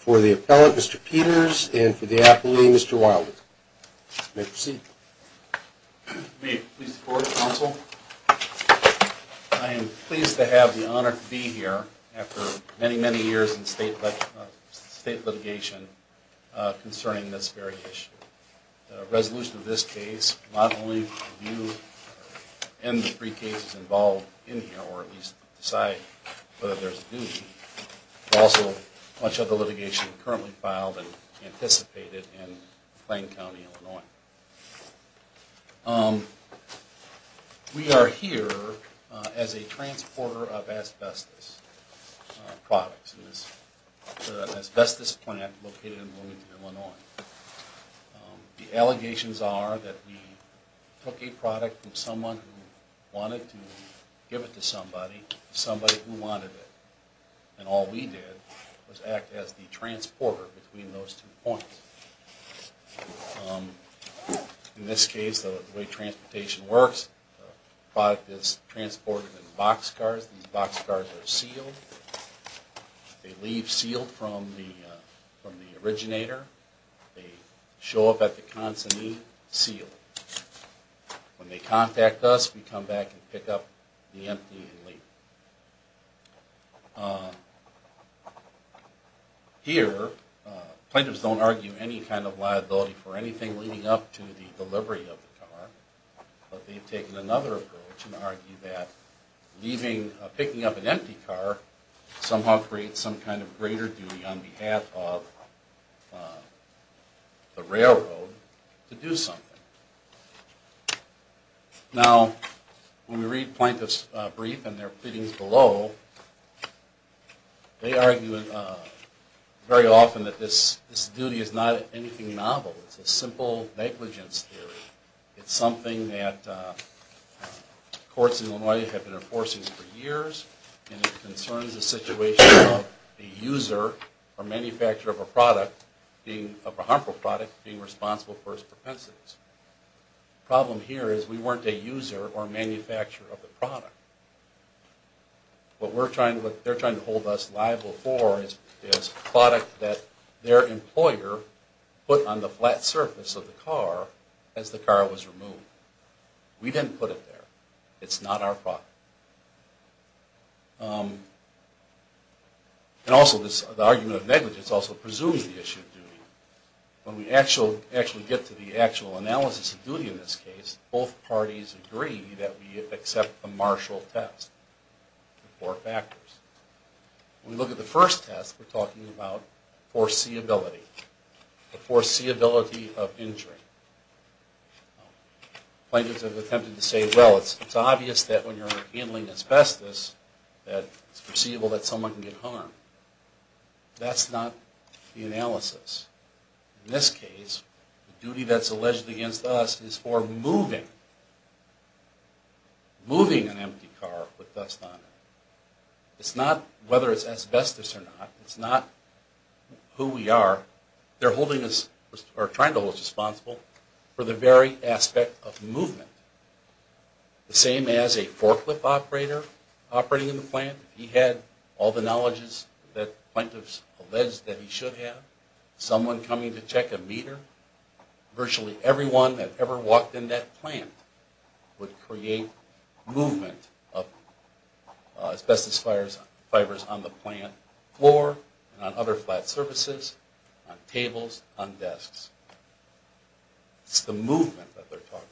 For the Appellant, Mr. Peters, and for the Appellee, Mr. Wilding, you may proceed. May it please the Court, Counsel, I am pleased to have the honor to be here after many, many years in state litigation concerning this very issue. The resolution of this case, not only do you end the three cases involved in here, or at least decide whether there is a duty, but also much of the litigation currently filed and anticipated in Plain County, Illinois. We are here as a transporter of asbestos products in this asbestos plant located in Bloomington, Illinois. The allegations are that we took a product from someone who wanted to give it to somebody, somebody who wanted it, and all we did was act as the transporter between those two points. In this case, the way transportation works, the product is transported in boxcars. These boxcars are sealed. They leave sealed from the originator. They show up at the consignee sealed. When they contact us, we come back and pick up the empty and leave. Here, plaintiffs don't argue any kind of liability for anything leading up to the delivery of the car, but they've taken another approach and argued that picking up an empty car somehow creates some kind of greater duty on behalf of the railroad to do something. Now, when we read plaintiff's brief and their pleadings below, they argue very often that this duty is not anything novel. It's a simple negligence theory. It's something that courts in Illinois have been enforcing for years, and it concerns the situation of a user or manufacturer of a harmful product being responsible for its propensities. The problem here is we weren't a user or manufacturer of the product. What they're trying to hold us liable for is a product that their employer put on the flat surface of the car as the car was removed. We didn't put it there. It's not our product. And also, this argument of negligence also presumes the issue of duty. When we actually get to the actual analysis of duty in this case, both parties agree that we accept the Marshall test. There are four factors. When we look at the first test, we're talking about foreseeability, the foreseeability of injury. Plaintiffs have attempted to say, well, it's obvious that when you're handling asbestos that it's foreseeable that someone can get harmed. That's not the analysis. In this case, the duty that's alleged against us is for moving, moving an empty car with dust on it. It's not whether it's asbestos or not. It's not who we are. They're trying to hold us responsible for the very aspect of movement. The same as a forklift operator operating in the plant. He had all the knowledge that plaintiffs alleged that he should have. Someone coming to check a meter. Virtually everyone that ever walked in that plant would create movement of asbestos fibers on the plant floor and on other flat surfaces, on tables, on desks. It's the movement that they're talking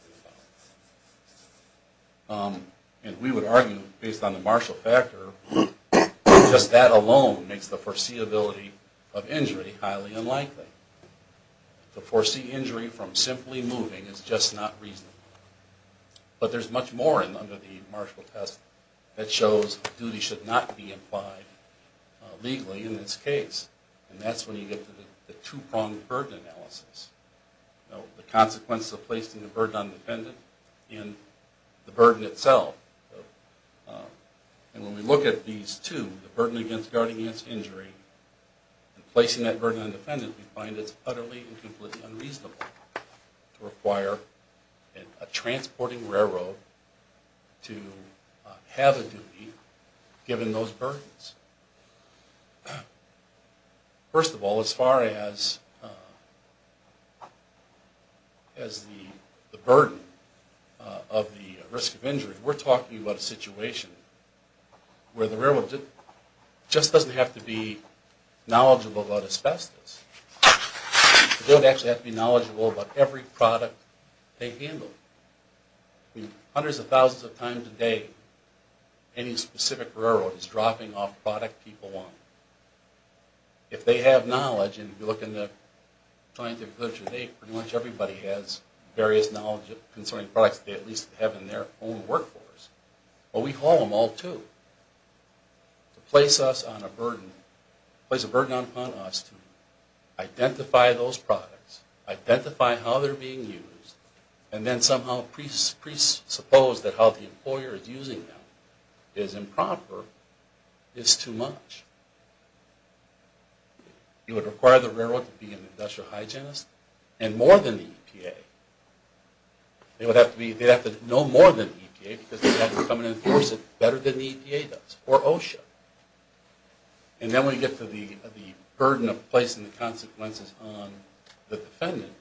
about. And we would argue, based on the Marshall factor, just that alone makes the foreseeability of injury highly unlikely. To foresee injury from simply moving is just not reasonable. But there's much more under the Marshall test that shows duty should not be implied legally in this case. And that's when you get to the two-pronged burden analysis. The consequences of placing the burden on the defendant and the burden itself. And when we look at these two, the burden against guarding against injury, and placing that burden on the defendant, we find it utterly and completely unreasonable to require a transporting railroad to have a duty given those burdens. First of all, as far as the burden of the risk of injury, we're talking about a situation where the railroad just doesn't have to be knowledgeable about asbestos. It doesn't actually have to be knowledgeable about every product they handle. Hundreds of thousands of times a day, any specific railroad is dropping off product people want. If they have knowledge, and if you look in the scientific literature today, pretty much everybody has various knowledge concerning products they at least have in their own workforce. But we haul them all too. To place a burden on us to identify those products, identify how they're being used, and then somehow presuppose that how the employer is using them is improper is too much. You would require the railroad to be an industrial hygienist, and more than the EPA. They'd have to know more than the EPA because they'd have to come and enforce it better than the EPA does, or OSHA. And then when you get to the burden of placing the consequences on the defendant,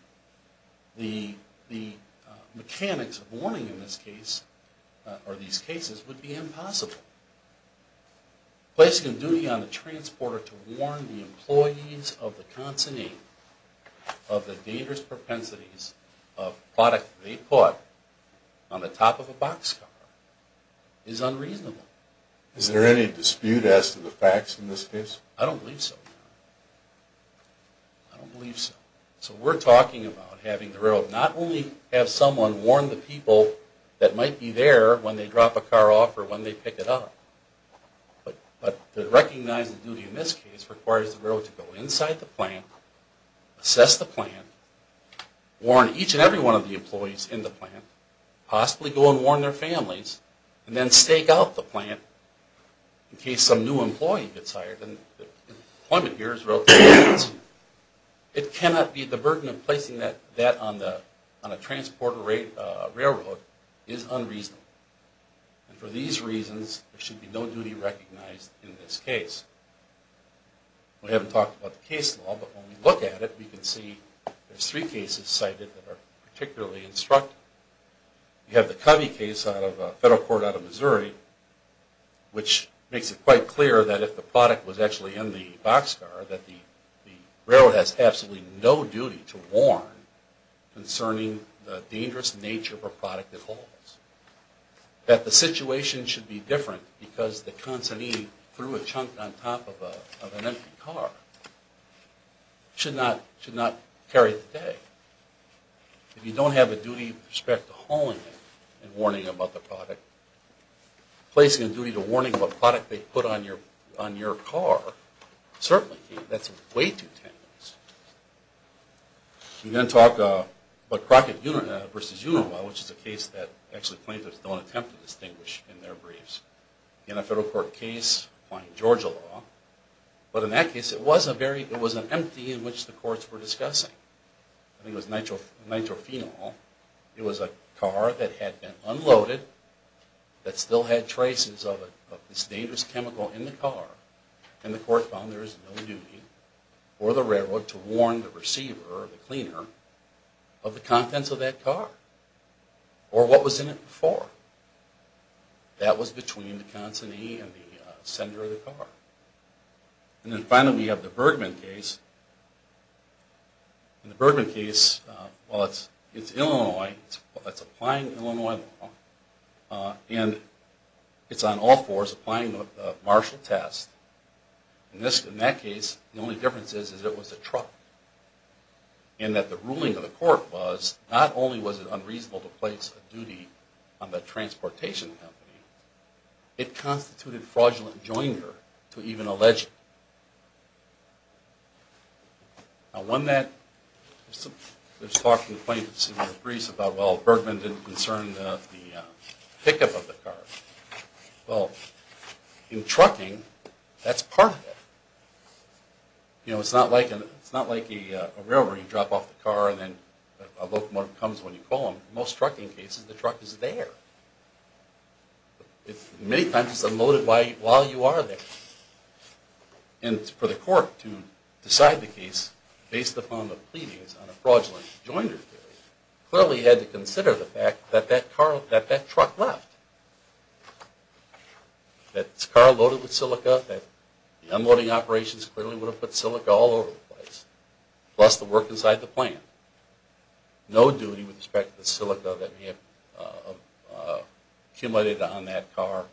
the mechanics of warning in this case, or these cases, would be impossible. Placing a duty on the transporter to warn the employees of the consignee of the dangerous propensities of product they put on the top of a boxcar is unreasonable. Is there any dispute as to the facts in this case? I don't believe so. I don't believe so. So we're talking about having the railroad not only have someone warn the people that might be there when they drop a car off or when they pick it up, but to recognize the duty in this case requires the railroad to go inside the plant, assess the plant, warn each and every one of the employees in the plant, possibly go and warn their families, and then stake out the plant. In case some new employee gets hired, and the employment here is relatively small, it cannot be the burden of placing that on a transporter railroad is unreasonable. And for these reasons, there should be no duty recognized in this case. We haven't talked about the case law, but when we look at it, we can see there's three cases cited that are particularly instructive. You have the Covey case of a federal court out of Missouri, which makes it quite clear that if the product was actually in the boxcar, that the railroad has absolutely no duty to warn concerning the dangerous nature of a product it holds. That the situation should be different because the consignee threw a chunk on top of an empty car should not carry the day. If you don't have a duty with respect to hauling it and warning about the product, placing a duty to warning about the product they put on your car certainly can't. That's way too tenuous. We're going to talk about Crockett versus Unilaw, which is a case that actually plaintiffs don't attempt to distinguish in their briefs. In a federal court case, applying Georgia law, but in that case it was an empty in which the courts were discussing. It was nitrophenol. It was a car that had been unloaded that still had traces of this dangerous chemical in the car. And the court found there is no duty for the railroad to warn the receiver, the cleaner, of the contents of that car or what was in it before. That was between the consignee and the sender of the car. And then finally we have the Bergman case. In the Bergman case, it's Illinois, it's applying Illinois law, and it's on all fours applying the Marshall Test. In that case, the only difference is that it was a truck. And that the ruling of the court was not only was it unreasonable to place a duty on the transportation company, it constituted fraudulent joinery to even allege it. Now when that was talked in plaintiffs' briefs about, well, Bergman didn't concern the pickup of the car. Well, in trucking, that's part of it. You know, it's not like a railroad where you drop off the car and then a locomotive comes when you call them. In most trucking cases, the truck is there. Many times it's unloaded while you are there. And for the court to decide the case based upon the pleadings on a fraudulent joinery clearly had to consider the fact that that truck left. That the car loaded with silica, that the unloading operations clearly would have put silica all over the place, plus the work inside the plant. No duty with respect to the silica that may have accumulated on that car,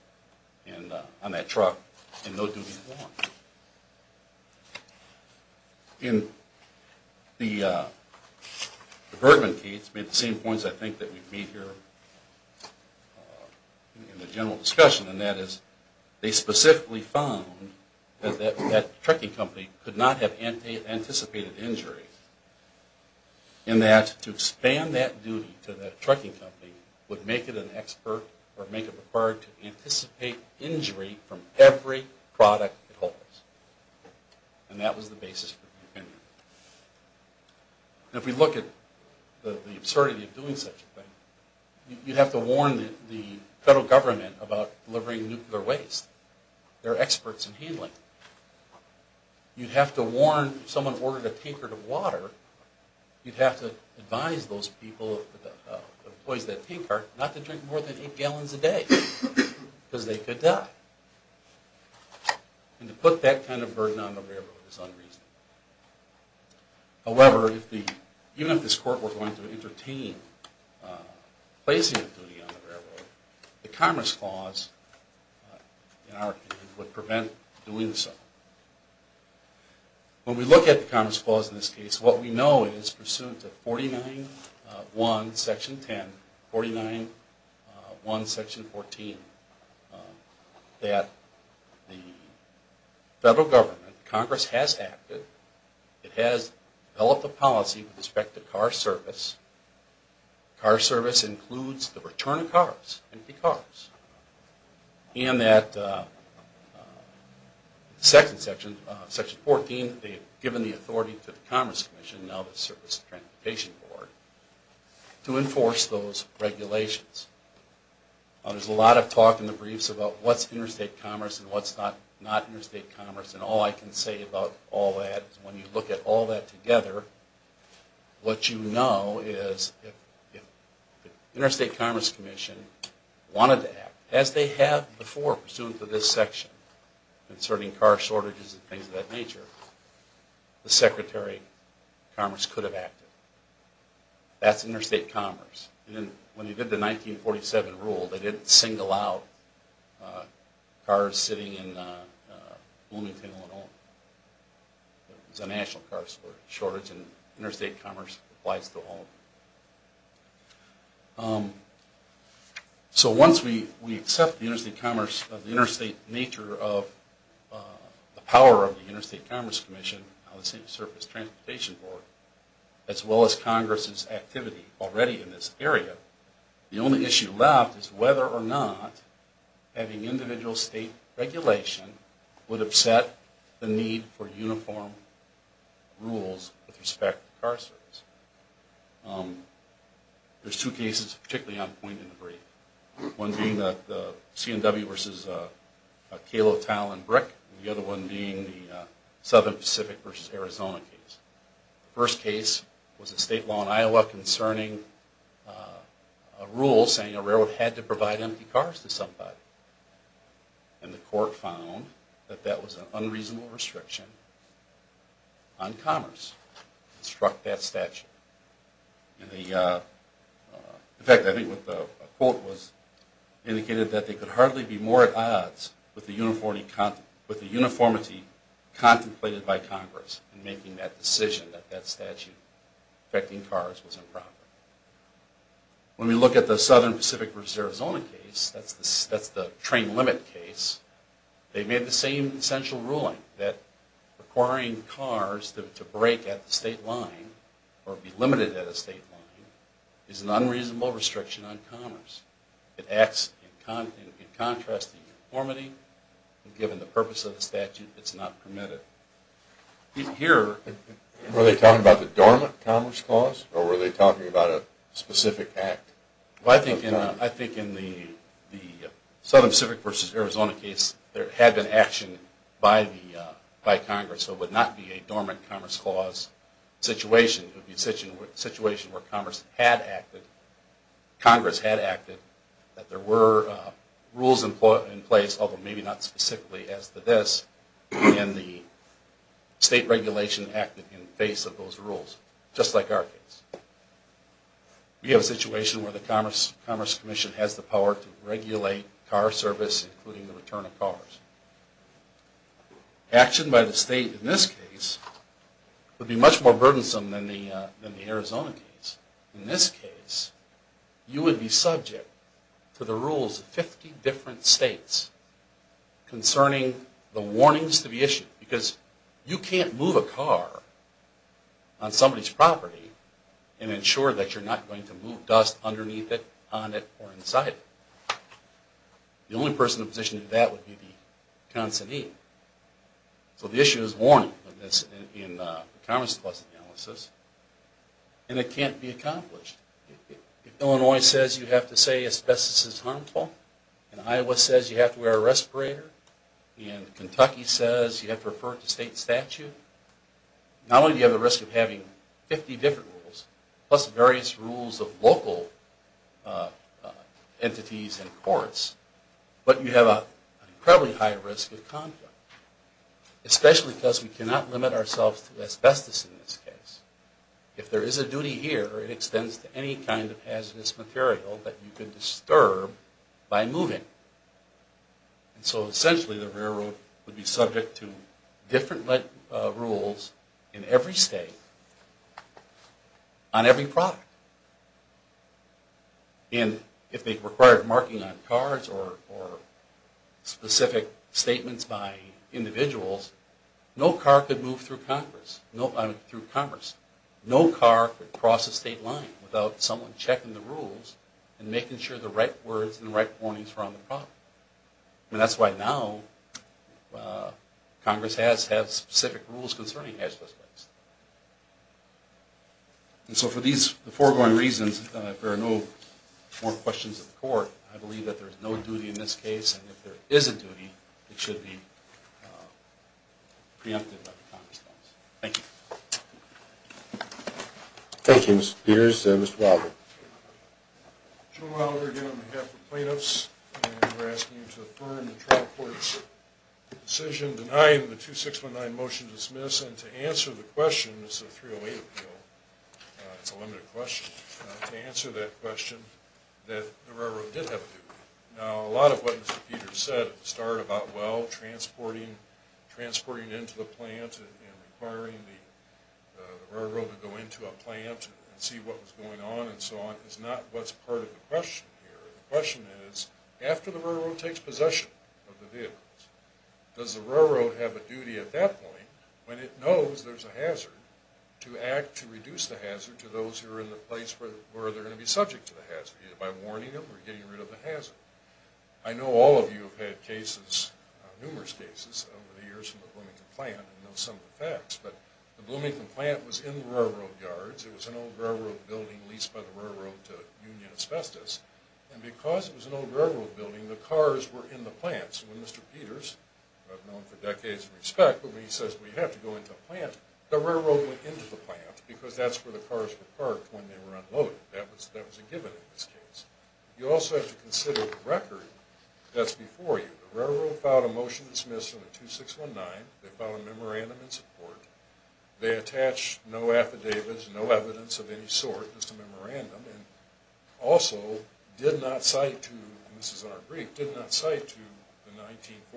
on that truck, and no duty at all. In the Bergman case, the same points I think that we've made here in the general discussion, and that is they specifically found that that trucking company could not have anticipated injury. And that to expand that duty to that trucking company would make it an expert or make it required to anticipate injury from every product it holds. And that was the basis for the opinion. And if we look at the absurdity of doing such a thing, you'd have to warn the federal government about delivering nuclear waste. They're experts in handling it. You'd have to warn if someone ordered a tankard of water, you'd have to advise those people, the employees of that tankard, not to drink more than 8 gallons a day. Because they could die. And to put that kind of burden on the railroad is unreasonable. However, even if this court were going to entertain placing a duty on the railroad, the Commerce Clause in our opinion would prevent doing so. When we look at the Commerce Clause in this case, what we know is pursuant to 49.1, section 10, 49.1, section 14, that the federal government, Congress has acted. It has developed a policy with respect to car service. Car service includes the return of cars, empty cars. And that section 14, they've given the authority to the Commerce Commission, now the Service Transportation Board, to enforce those regulations. There's a lot of talk in the briefs about what's interstate commerce and what's not interstate commerce. And all I can say about all that is when you look at all that together, what you know is if the Interstate Commerce Commission wanted to act, as they have before pursuant to this section, concerning car shortages and things of that nature, the Secretary of Commerce could have acted. That's interstate commerce. When he did the 1947 rule, they didn't single out cars sitting in Bloomington, Illinois. It was a national car shortage and interstate commerce applies to all. So once we accept the interstate commerce, the interstate nature of the power of the Interstate Commerce Commission, now the State Service Transportation Board, as well as Congress's activity already in this area, the only issue left is whether or not having individual state regulation would upset the need for uniform rules with respect to car service. There's two cases, particularly on point in the brief. One being the CNW v. Calo, Tal, and Brick. The other one being the Southern Pacific v. Arizona case. The first case was a state law in Iowa concerning a rule saying a railroad had to provide empty cars to somebody. And the court found that that was an unreasonable restriction on commerce. It struck that statute. In fact, I think what the quote was indicated that they could hardly be more at odds with the uniformity contemplated by Congress in making that decision that that statute affecting cars was improper. When we look at the Southern Pacific v. Arizona case, that's the train limit case, they made the same essential ruling that requiring cars to break at the state line or be limited at a state line is an unreasonable restriction on commerce. It acts in contrast to uniformity, and given the purpose of the statute, it's not permitted. Were they talking about the dormant commerce clause, or were they talking about a specific act? I think in the Southern Pacific v. Arizona case, there had been action by Congress. So it would not be a dormant commerce clause situation. It would be a situation where Congress had acted, that there were rules in place, although maybe not specifically as to this, and the state regulation acted in face of those rules, just like our case. We have a situation where the Commerce Commission has the power to regulate car service, including the return of cars. Action by the state in this case would be much more burdensome than the Arizona case. In this case, you would be subject to the rules of 50 different states concerning the warnings to be issued, because you can't move a car on somebody's property and ensure that you're not going to move dust underneath it, on it, or inside it. The only person in a position to do that would be the consignee. So the issue is warning in the commerce clause analysis, and it can't be accomplished. If Illinois says you have to say asbestos is harmful, and Iowa says you have to wear a respirator, and Kentucky says you have to refer to state statute, not only do you have the risk of having 50 different rules, plus various rules of local entities and courts, but you have an incredibly high risk of conflict. Especially because we cannot limit ourselves to asbestos in this case. If there is a duty here, it extends to any kind of hazardous material that you can disturb by moving. So essentially the railroad would be subject to different rules in every state on every product. And if they required marking on cars or specific statements by individuals, no car could move through commerce. No car could cross a state line without someone checking the rules and making sure the right words and the right warnings were on the product. And that's why now Congress has specific rules concerning asbestos. And so for these foregoing reasons, if there are no more questions of the court, I believe that there is no duty in this case. And if there is a duty, it should be preempted by the commerce clause. Thank you. Thank you, Mr. Peters. Mr. Wilder. Jim Wilder again on behalf of plaintiffs. We're asking you to affirm the trial court's decision denying the 2619 motion to dismiss and to answer the question. It's a 308 appeal. It's a limited question. To answer that question that the railroad did have a duty. Now a lot of what Mr. Peters said at the start about, well, transporting into the plant and requiring the railroad to go into a plant and see what was going on and so on, is not what's part of the question here. The question is, after the railroad takes possession of the vehicles, does the railroad have a duty at that point, when it knows there's a hazard, to act to reduce the hazard to those who are in the place where they're going to be subject to the hazard, either by warning them or getting rid of the hazard? I know all of you have had cases, numerous cases, over the years from the Bloomington plant and know some of the facts. But the Bloomington plant was in the railroad yards. It was an old railroad building leased by the railroad to Union Asbestos. And because it was an old railroad building, the cars were in the plant. So when Mr. Peters, who I've known for decades in respect, when he says we have to go into a plant, the railroad went into the plant because that's where the cars were parked when they were unloaded. That was a given in this case. You also have to consider the record that's before you. The railroad filed a motion to dismiss from the 2619. They filed a memorandum in support. They attached no affidavits, no evidence of any sort, just a memorandum. And also did not cite to, and this is in our brief, did not cite to the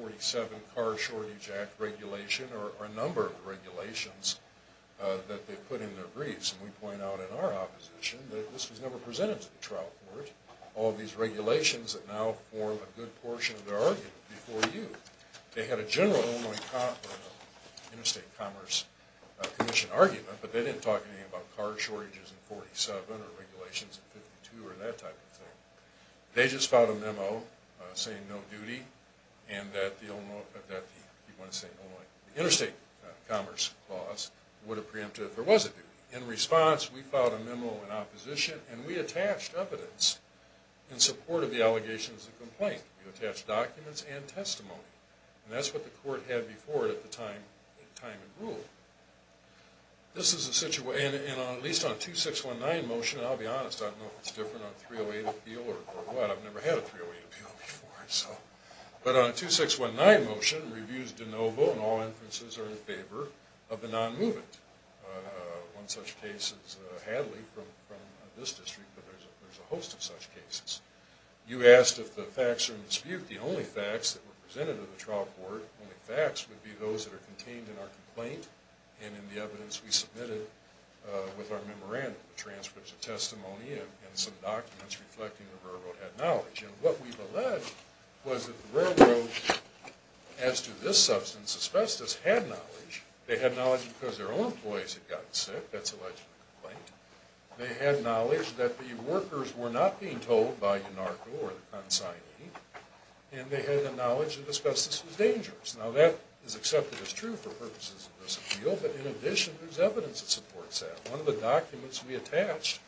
1947 Car Shortage Act regulation or a number of regulations that they put in their briefs. And we point out in our opposition that this was never presented to the trial court, all these regulations that now form a good portion of their argument before you. They had a general Illinois Interstate Commerce Commission argument, but they didn't talk anything about car shortages in 1947 or regulations in 1952 or that type of thing. They just filed a memo saying no duty and that the Illinois, the Interstate Commerce Clause would have preempted if there was a duty. In response, we filed a memo in opposition and we attached evidence in support of the allegations of complaint. We attached documents and testimony. And that's what the court had before it at the time it ruled. This is a situation, and at least on a 2619 motion, and I'll be honest, I don't know if it's different on a 308 appeal or what. I've never had a 308 appeal before. But on a 2619 motion, reviews de novo and all inferences are in favor of the non-movement. One such case is Hadley from this district, but there's a host of such cases. You asked if the facts are in dispute. The only facts that were presented to the trial court, only facts, would be those that are contained in our complaint and in the evidence we submitted with our memorandum. The transcripts, the testimony, and some documents reflecting the verbal acknowledge. And what we've alleged was that the railroad, as to this substance, asbestos, had knowledge. They had knowledge because their own employees had gotten sick. That's alleged in the complaint. They had knowledge that the workers were not being told by UNARCO or the consignee. And they had the knowledge that asbestos was dangerous. Now that is accepted as true for purposes of this appeal. But in addition, there's evidence that supports that. One of the documents we attached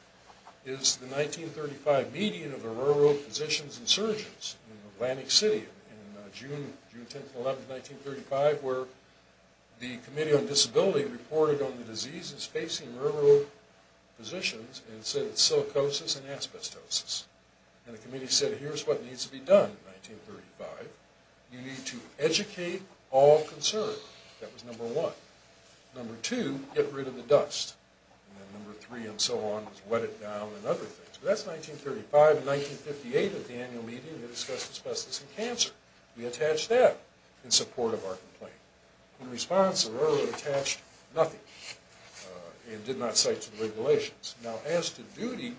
is the 1935 meeting of the Railroad Physicians and Surgeons in Atlantic City in June 10-11, 1935, where the Committee on Disability reported on the diseases facing railroad physicians and said it's silicosis and asbestosis. And the committee said, here's what needs to be done in 1935. You need to educate all concerned. That was number one. Number two, get rid of the dust. And number three and so on was wet it down and other things. That's 1935 and 1958 at the annual meeting that discussed asbestos and cancer. We attached that in support of our complaint. In response, the railroad attached nothing and did not cite to the regulations. Now as to duty,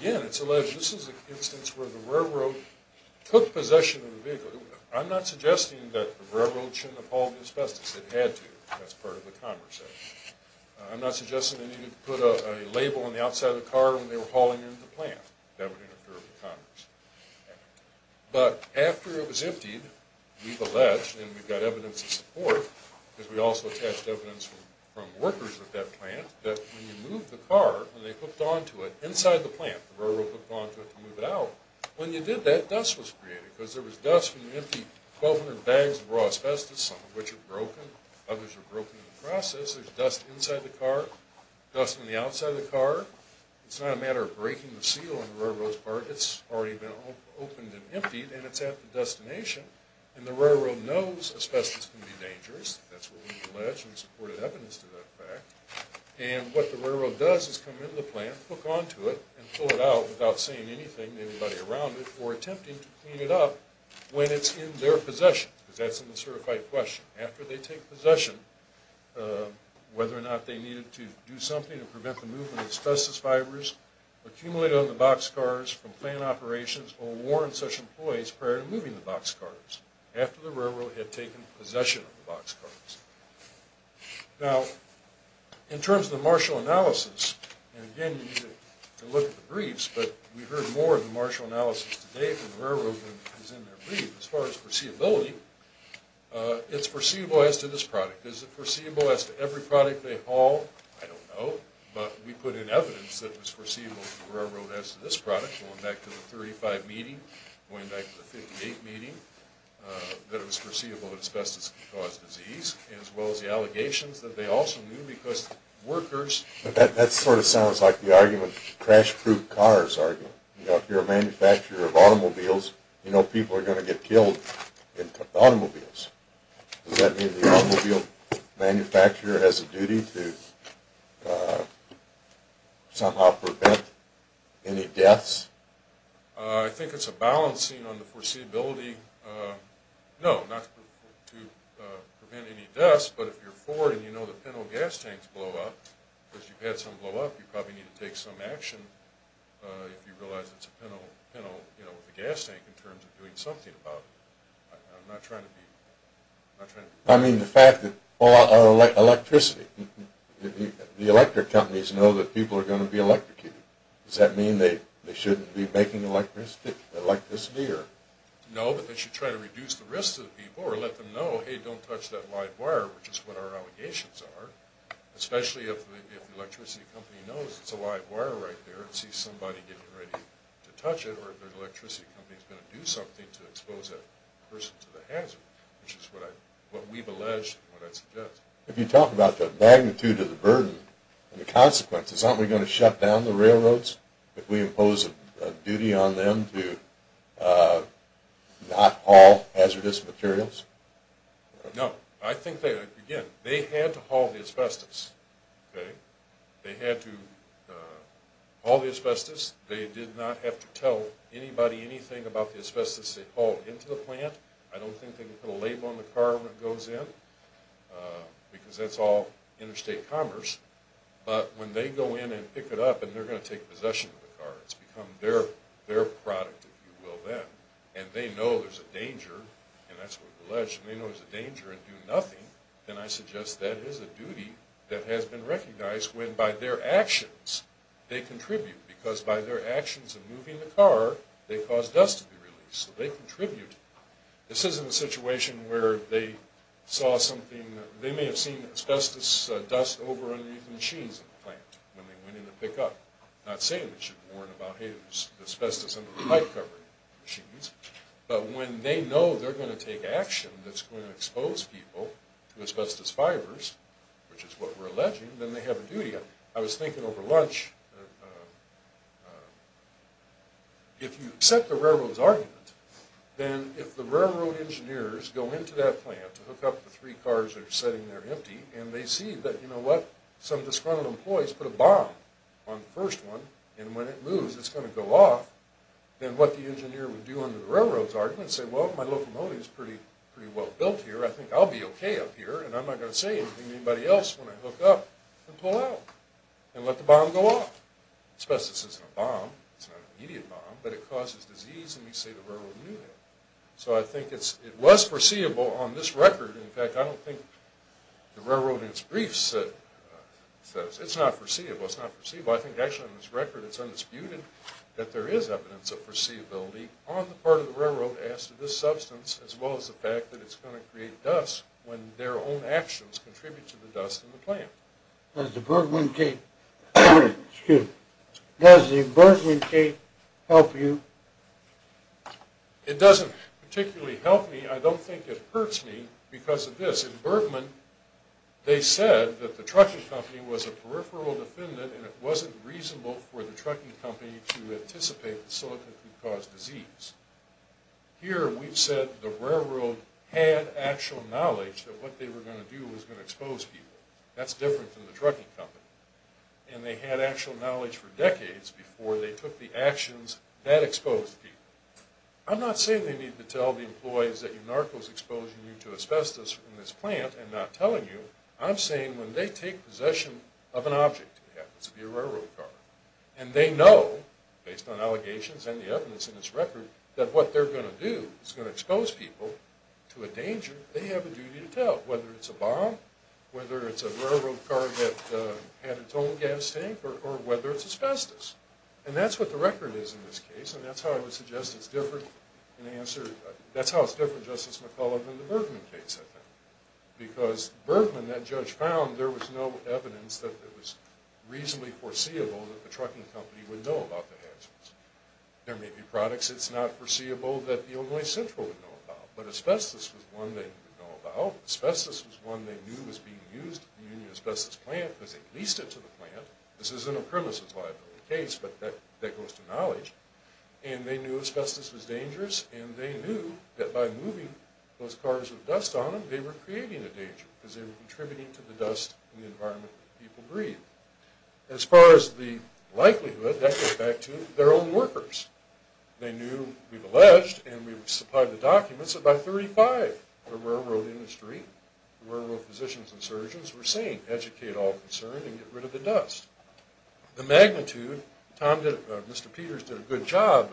again, it's alleged this is an instance where the railroad took possession of the vehicle. I'm not suggesting that the railroad shouldn't have hauled the asbestos. It had to. That's part of the conversation. I'm not suggesting they needed to put a label on the outside of the car when they were hauling in the plant. That would interfere with the conversation. But after it was emptied, we've alleged, and we've got evidence in support, because we also attached evidence from workers at that plant, that when you moved the car, when they hooked onto it inside the plant, the railroad hooked onto it to move it out, when you did that, dust was created. Because there was dust from the empty 1200 bags of raw asbestos, some of which are broken, others are broken in the process. There's dust inside the car, dust on the outside of the car. It's not a matter of breaking the seal on the railroad's part. It's already been opened and emptied and it's at the destination. And the railroad knows asbestos can be dangerous. That's what we've alleged and supported evidence to that fact. And what the railroad does is come into the plant, hook onto it, and pull it out without saying anything to anybody around it, or attempting to clean it up when it's in their possession, because that's an uncertified question. After they take possession, whether or not they needed to do something to prevent the movement of asbestos fibers accumulated on the boxcars from plant operations or warn such employees prior to moving the boxcars, after the railroad had taken possession of the boxcars. Now, in terms of the Marshall analysis, and again, you need to look at the briefs, but we've heard more of the Marshall analysis to date than the railroad has in their brief. As far as foreseeability, it's foreseeable as to this product. Is it foreseeable as to every product they haul? I don't know, but we put in evidence that it was foreseeable to the railroad as to this product going back to the 35 meeting, going back to the 58 meeting, that it was foreseeable that asbestos could cause disease, as well as the allegations that they also knew because workers... That sort of sounds like the argument, the crash-proof cars argument. If you're a manufacturer of automobiles, you know people are going to get killed in automobiles. Does that mean the automobile manufacturer has a duty to somehow prevent any deaths? I think it's a balancing on the foreseeability. No, not to prevent any deaths, but if you're Ford and you know that penal gas tanks blow up, because you've had some blow up, you probably need to take some action if you realize it's a penal gas tank in terms of doing something about it. I'm not trying to be... I mean the fact that electricity, the electric companies know that people are going to be electrocuted. Does that mean they shouldn't be making electricity? No, but they should try to reduce the risk to the people or let them know, hey, don't touch that live wire, which is what our allegations are, especially if the electricity company knows it's a live wire right there and sees somebody getting ready to touch it or if the electricity company is going to do something to expose that person to the hazard, which is what we've alleged and what I suggest. If you talk about the magnitude of the burden and the consequences, aren't we going to shut down the railroads if we impose a duty on them to not haul hazardous materials? No, I think they, again, they had to haul the asbestos. They had to haul the asbestos. They did not have to tell anybody anything about the asbestos they hauled into the plant. I don't think they can put a label on the car when it goes in, because that's all interstate commerce. But when they go in and pick it up and they're going to take possession of the car, it's become their product, if you will, then. And they know there's a danger, and that's what we've alleged. They know there's a danger and do nothing, and I suggest that is a duty that has been recognized when by their actions they contribute, because by their actions of moving the car, they cause dust to be released. So they contribute. This isn't a situation where they saw something. They may have seen asbestos dust over underneath the machines in the plant when they went in to pick up, not saying they should have warned about, hey, there's asbestos under the pipe-covering machines, but when they know they're going to take action that's going to expose people to asbestos fibers, which is what we're alleging, then they have a duty. if you accept the railroad's argument, then if the railroad engineers go into that plant to hook up the three cars that are sitting there empty, and they see that some disgruntled employees put a bomb on the first one, and when it moves it's going to go off, then what the engineer would do under the railroad's argument is say, well, my locomotive is pretty well built here, I think I'll be okay up here, and I'm not going to say anything to anybody else when I hook up and pull out and let the bomb go off. Asbestos isn't a bomb, it's not an immediate bomb, but it causes disease, and we say the railroad knew that. So I think it was foreseeable on this record, in fact, I don't think the railroad in its briefs says, it's not foreseeable, it's not foreseeable. I think actually on this record it's undisputed that there is evidence of foreseeability on the part of the railroad as to this substance, as well as the fact that it's going to create dust when their own actions contribute to the dust in the plant. Does the Bergman case help you? It doesn't particularly help me. I don't think it hurts me because of this. In Bergman, they said that the trucking company was a peripheral defendant and it wasn't reasonable for the trucking company to anticipate that silicon could cause disease. Here we've said the railroad had actual knowledge that what they were going to do was going to expose people. That's different from the trucking company. And they had actual knowledge for decades before they took the actions that exposed people. I'm not saying they need to tell the employees that UNARCO is exposing you to asbestos in this plant and not telling you. I'm saying when they take possession of an object, it happens to be a railroad car, and they know, based on allegations and the evidence in this record, that what they're going to do is going to expose people to a danger that they have a duty to tell, whether it's a bomb, whether it's a railroad car that had its own gas tank, or whether it's asbestos. And that's what the record is in this case, and that's how I would suggest it's different. That's how it's different, Justice McCullough, than the Bergman case, I think. Because Bergman, that judge found, there was no evidence that it was reasonably foreseeable that the trucking company would know about the hazards. There may be products it's not foreseeable that the Illinois Central would know about, but asbestos was one they would know about. Asbestos was one they knew was being used in the asbestos plant because they leased it to the plant. This isn't a premises liability case, but that goes to knowledge. And they knew asbestos was dangerous, and they knew that by moving those cars with dust on them, they were creating a danger because they were contributing to the dust in the environment that people breathe. As far as the likelihood, that goes back to their own workers. They knew, we've alleged, and we've supplied the documents, that by 1935 the railroad industry, the railroad physicians and surgeons, were saying educate all concerned and get rid of the dust. The magnitude, Tom did, Mr. Peters did a good job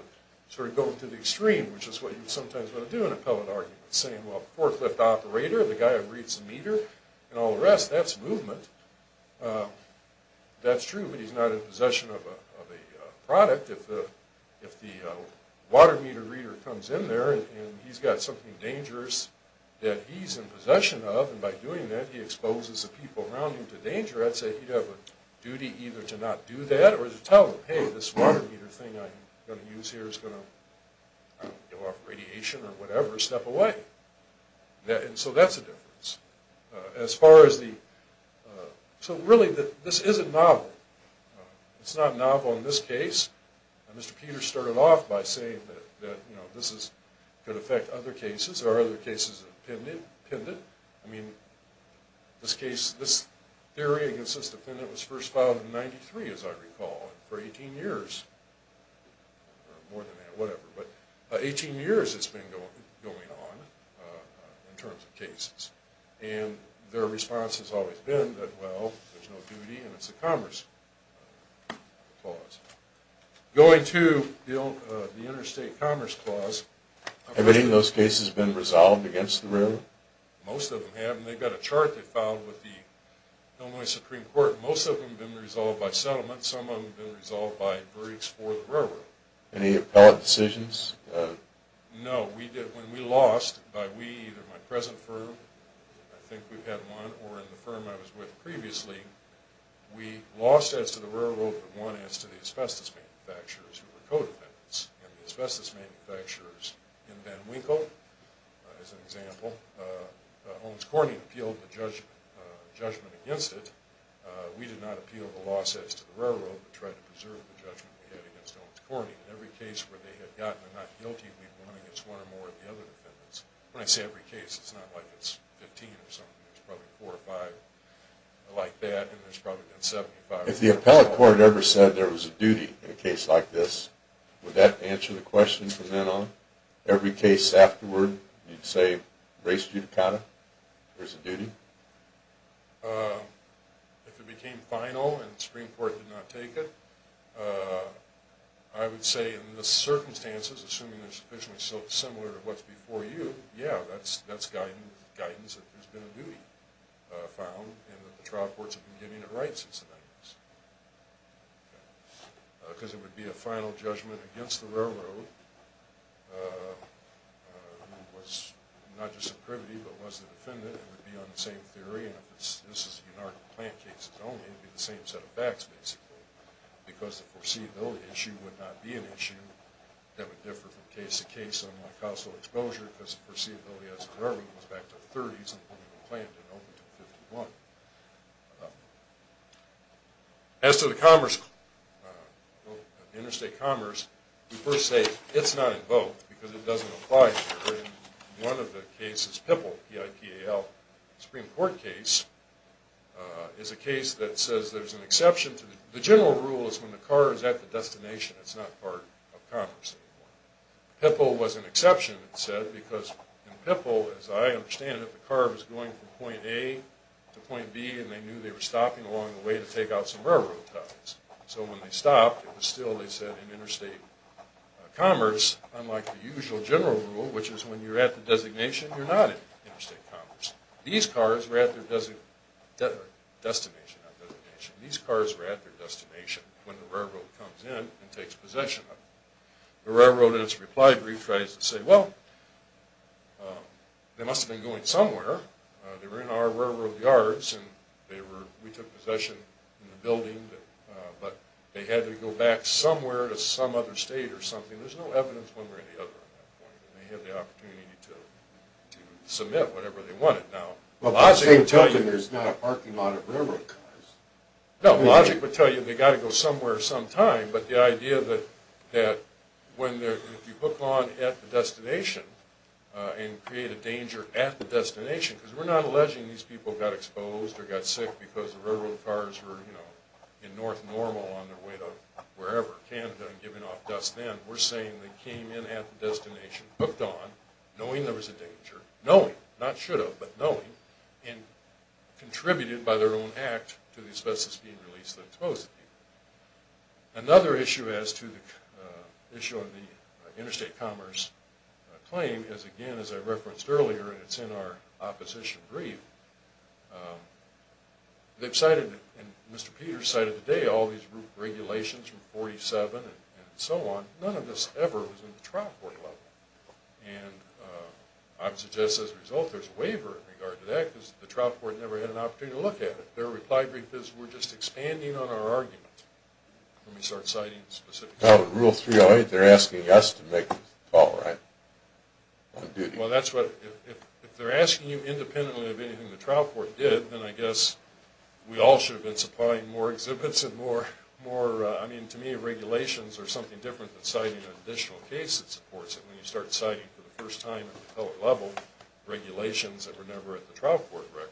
sort of going to the extreme, which is what you sometimes want to do in appellate arguments, saying, well, the forklift operator, the guy that reads the meter, and all the rest, that's movement. That's true, but he's not in possession of a product. If the water meter reader comes in there, and he's got something dangerous that he's in possession of, and by doing that he exposes the people around him to danger, I'd say he'd have a duty either to not do that, or to tell them, hey, this water meter thing I'm going to use here is going to give off radiation or whatever. Step away. And so that's a difference. As far as the... So really this isn't novel. It's not novel in this case. Mr. Peters started off by saying that this could affect other cases. There are other cases of pendant. I mean, this theory against this defendant was first filed in 1993, as I recall, for 18 years or more than that, whatever. But 18 years it's been going on in terms of cases. And their response has always been that, well, there's no duty and it's a commerce clause. Going to the interstate commerce clause... Have any of those cases been resolved against the railroad? Most of them have, and they've got a chart they filed with the Illinois Supreme Court. Most of them have been resolved by settlement. Some of them have been resolved by breaks for the railroad. Any appellate decisions? No. When we lost by we, either my present firm, I think we've had one, or in the firm I was with previously, we lost as to the railroad, but won as to the asbestos manufacturers who were co-defendants. And the asbestos manufacturers in Van Winkle, as an example, Owens-Cornyn appealed the judgment against it. We did not appeal the loss as to the railroad, but tried to preserve the judgment we had against Owens-Cornyn. In every case where they had gotten, they're not guilty if we've won against one or more of the other defendants. When I say every case, it's not like it's 15 or something. There's probably four or five like that, and there's probably been 75. If the appellate court ever said there was a duty in a case like this, would that answer the question from then on? Every case afterward, you'd say race judicata? There's a duty? If it became final and the Supreme Court did not take it, I would say in the circumstances, assuming they're sufficiently similar to what's before you, yeah, that's guidance that there's been a duty found and that the trial courts have been getting it right since then. Because it would be a final judgment against the railroad, who was not just a privity, but was a defendant. It would be on the same theory. And if this is an anarchic plant case only, it would be the same set of facts, basically, because the foreseeability issue would not be an issue that would differ from case to case on cost of exposure, because the foreseeability as a railroad was back to the 30s, and then it was planned to open to the 51. As to the commerce, interstate commerce, we first say it's not invoked, because it doesn't apply here. And one of the cases, PIPAL, P-I-P-A-L, Supreme Court case, is a case that says there's an exception to the general rule is when the car is at the destination. It's not part of commerce anymore. PIPAL was an exception, it said, because in PIPAL, as I understand it, the car was going from point A to point B, and they knew they were stopping along the way to take out some railroad tugs. So when they stopped, it was still, they said, in interstate commerce, unlike the usual general rule, which is when you're at the designation, you're not in interstate commerce. These cars were at their destination. These cars were at their destination when the railroad comes in and takes possession of them. The railroad, in its reply brief, tries to say, well, they must have been going somewhere. They were in our railroad yards, and we took possession of the building, but they had to go back somewhere to some other state or something. There's no evidence one way or the other at that point. They had the opportunity to submit whatever they wanted. Now, logic would tell you... Well, the state would tell them there's not a parking lot of railroad cars. No, logic would tell you they got to go somewhere sometime, but the idea that when you hook on at the destination and create a danger at the destination, because we're not alleging these people got exposed or got sick because the railroad cars were, you know, in North Normal on their way to wherever, Canada, and giving off dust then. We're saying they came in at the destination, hooked on, knowing there was a danger, knowing, not should have, but knowing, and contributed by their own act to the asbestos being released that exposed the people. Another issue as to the issue of the interstate commerce claim is, again, as I referenced earlier, and it's in our opposition brief, they've cited, and Mr. Peters cited today, all these regulations from 47 and so on. None of this ever was in the trial court level. And I would suggest, as a result, there's a waiver in regard to that because the trial court never had an opportunity to look at it. Their reply brief is, we're just expanding on our argument when we start citing specific cases. Oh, Rule 308, they're asking us to make the call, right? On duty. Well, that's what, if they're asking you independently of anything the trial court did, then I guess we all should have been supplying more exhibits and more, I mean, to me, regulations are something different than citing an additional case that supports it when you start citing for the first time at the federal level regulations that were never at the trial court record.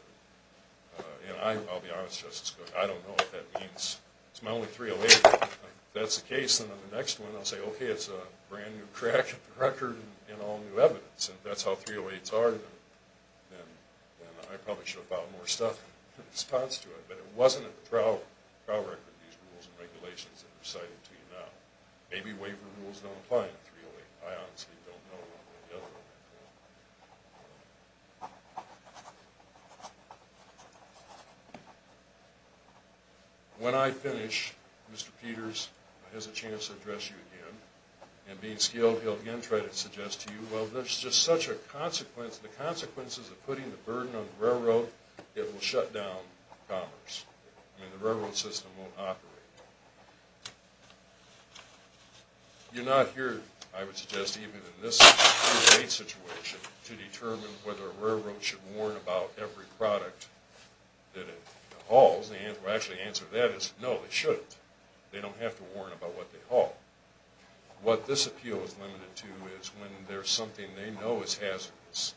And I'll be honest, Justice Cook, I don't know what that means. It's my only 308. If that's the case, then on the next one, I'll say, okay, it's a brand new crack at the record and all new evidence. And if that's how 308s are, then I probably should have filed more stuff in response to it. But it wasn't at the trial record, these rules and regulations that are cited to you now. Maybe waiver rules don't apply in 308. I honestly don't know. When I finish, Mr. Peters has a chance to address you again. And being skilled, he'll again try to suggest to you, well, there's just such a consequence, the consequences of putting the burden on the railroad, it will shut down commerce. I mean, the railroad system won't operate. You're not here, I would suggest, even in this 308 situation to determine whether a railroad should warn about every product that it hauls. Actually, the answer to that is no, they shouldn't. They don't have to warn about what they haul. What this appeal is limited to is when there's something they know is hazardous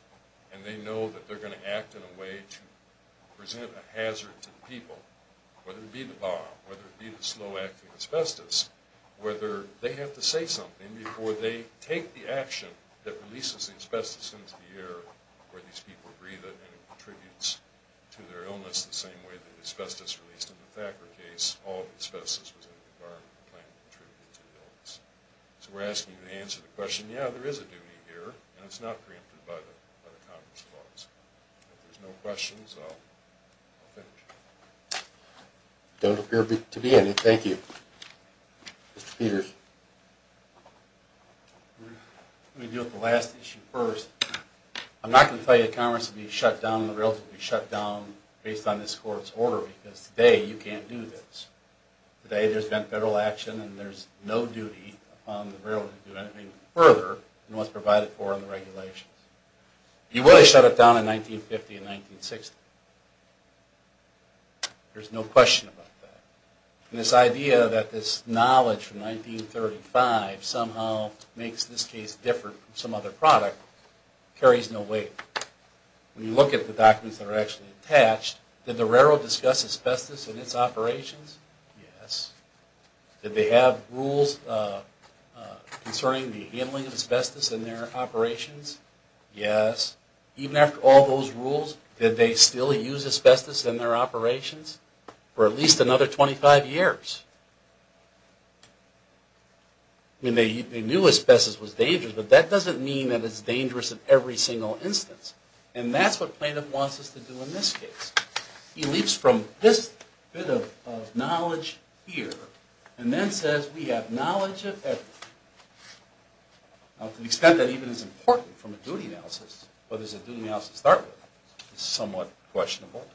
and they know that they're going to act in a way to present a hazard to the people, whether it be the bomb, whether it be the slow-acting asbestos, whether they have to say something before they take the action that releases the asbestos into the air where these people breathe it and it contributes to their illness the same way the asbestos released in the Thacker case, all of the asbestos was in the environment and contributed to the illness. So we're asking you to answer the question, yeah, there is a duty here, and it's not preempted by the Congress laws. If there's no questions, I'll finish. Don't appear to be any. Thank you. Mr. Peters. Let me deal with the last issue first. I'm not going to tell you the Congress will be shut down and the railroad will be shut down based on this Court's order because today you can't do this. Today there's been federal action and there's no duty upon the railroad to do anything further than what's provided for in the regulations. You will shut it down in 1950 and 1960. There's no question about that. And this idea that this knowledge from 1935 somehow makes this case different from some other product carries no weight. When you look at the documents that are actually attached, did the railroad discuss asbestos and its operations? Yes. Did they have rules concerning the handling of asbestos in their operations? Yes. Even after all those rules, did they still use asbestos in their operations for at least another 25 years? I mean, they knew asbestos was dangerous, but that doesn't mean that it's dangerous in every single instance. And that's what Planoff wants us to do in this case. He leaps from this bit of knowledge here and then says we have knowledge of everything. Now, to the extent that even it's important from a duty analysis, whether it's a duty analysis to start with, is somewhat questionable.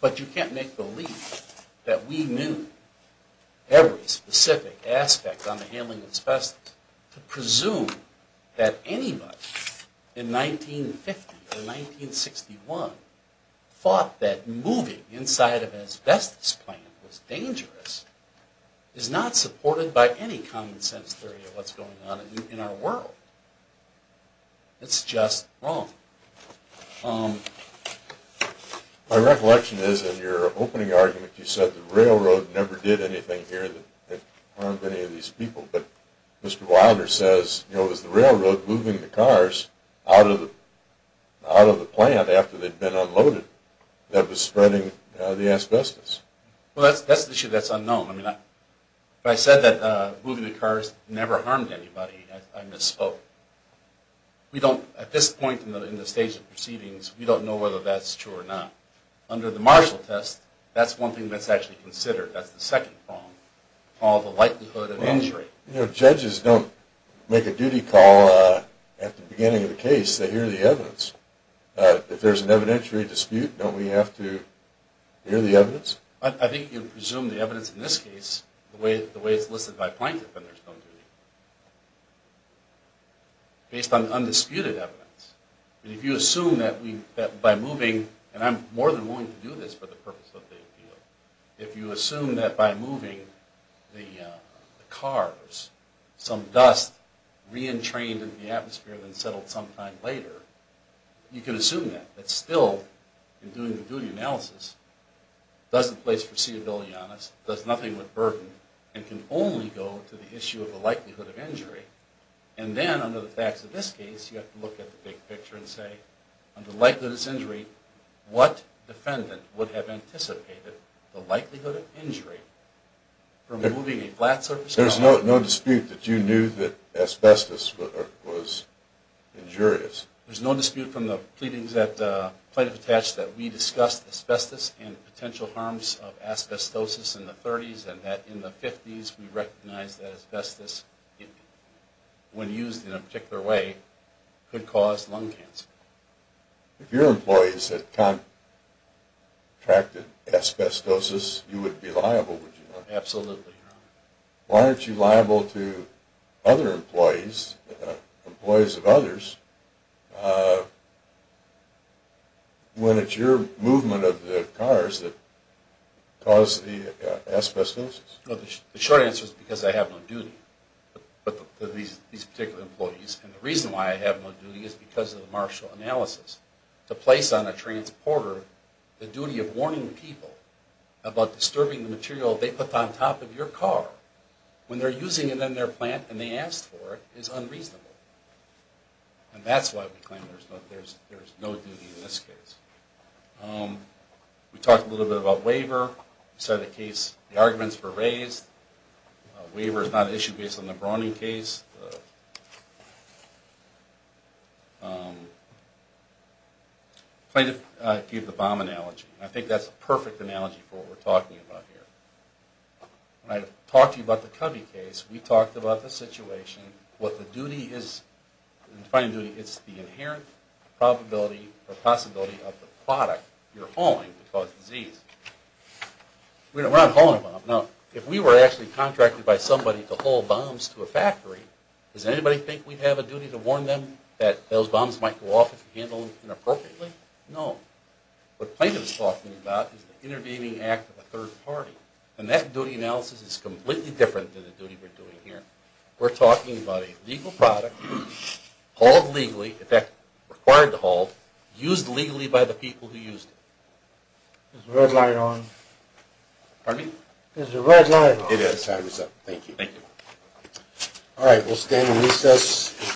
But you can't make the leap that we knew every specific aspect on the handling of asbestos to presume that anybody in 1950 or 1961 thought that moving inside of an asbestos plant was dangerous is not supported by any common-sense theory of what's going on in our world. It's just wrong. My recollection is in your opening argument you said the railroad never did anything here that harmed any of these people. But Mr. Wilder says, you know, it was the railroad moving the cars out of the plant after they'd been unloaded that was spreading the asbestos. Well, that's an issue that's unknown. When I said that moving the cars never harmed anybody, I misspoke. We don't, at this point in the stage of proceedings, we don't know whether that's true or not. Under the Marshall Test, that's one thing that's actually considered, that's the second prong, called the likelihood of injury. You know, judges don't make a duty call at the beginning of the case. They hear the evidence. If there's an evidentiary dispute, don't we have to hear the evidence? I think you presume the evidence in this case, the way it's listed by plaintiff, then there's no duty. Based on undisputed evidence. If you assume that by moving, and I'm more than willing to do this for the purpose of the appeal, if you assume that by moving the cars, some dust re-entrained in the atmosphere and settled sometime later, you can assume that, that still, in doing the duty analysis, doesn't place foreseeability on us, does nothing with burden, and can only go to the issue of the likelihood of injury. And then, under the facts of this case, you have to look at the big picture and say, under the likelihood of this injury, what defendant would have anticipated the likelihood of injury from moving a flat surface car? There's no dispute that you knew that asbestos was injurious. There's no dispute from the pleadings that plaintiff attached that we discussed asbestos and potential harms of asbestosis in the 30s and that in the 50s, we recognized that asbestos, when used in a particular way, could cause lung cancer. If your employees had contracted asbestosis, you would be liable, would you not? Absolutely, Your Honor. Why aren't you liable to other employees, employees of others, when it's your movement of the cars that caused the asbestosis? The short answer is because I have no duty to these particular employees. And the reason why I have no duty is because of the martial analysis. To place on a transporter the duty of warning people about disturbing the material they put on top of your car when they're using it in their plant and they asked for it is unreasonable. And that's why we claim there's no duty in this case. We talked a little bit about waiver. We said the case, the arguments were raised. Waiver is not an issue based on the Browning case. I gave the bomb analogy. I think that's a perfect analogy for what we're talking about here. When I talked to you about the Covey case, we talked about the situation, what the duty is, the defining duty, it's the inherent probability or possibility of the product you're hauling to cause disease. We're not hauling a bomb. Now, if we were actually contracted by somebody to haul bombs to a factory, does anybody think we'd have a duty to warn them that those bombs might go off if you handle them inappropriately? No. What Plaintiff is talking about is the intervening act of a third party. And that duty analysis is completely different than the duty we're doing here. We're talking about a legal product hauled legally, in fact, required to haul, used legally by the people who used it. Is the red light on? Pardon me? Is the red light on? It is. Time is up. Thank you. Thank you. All right, we'll stand in recess.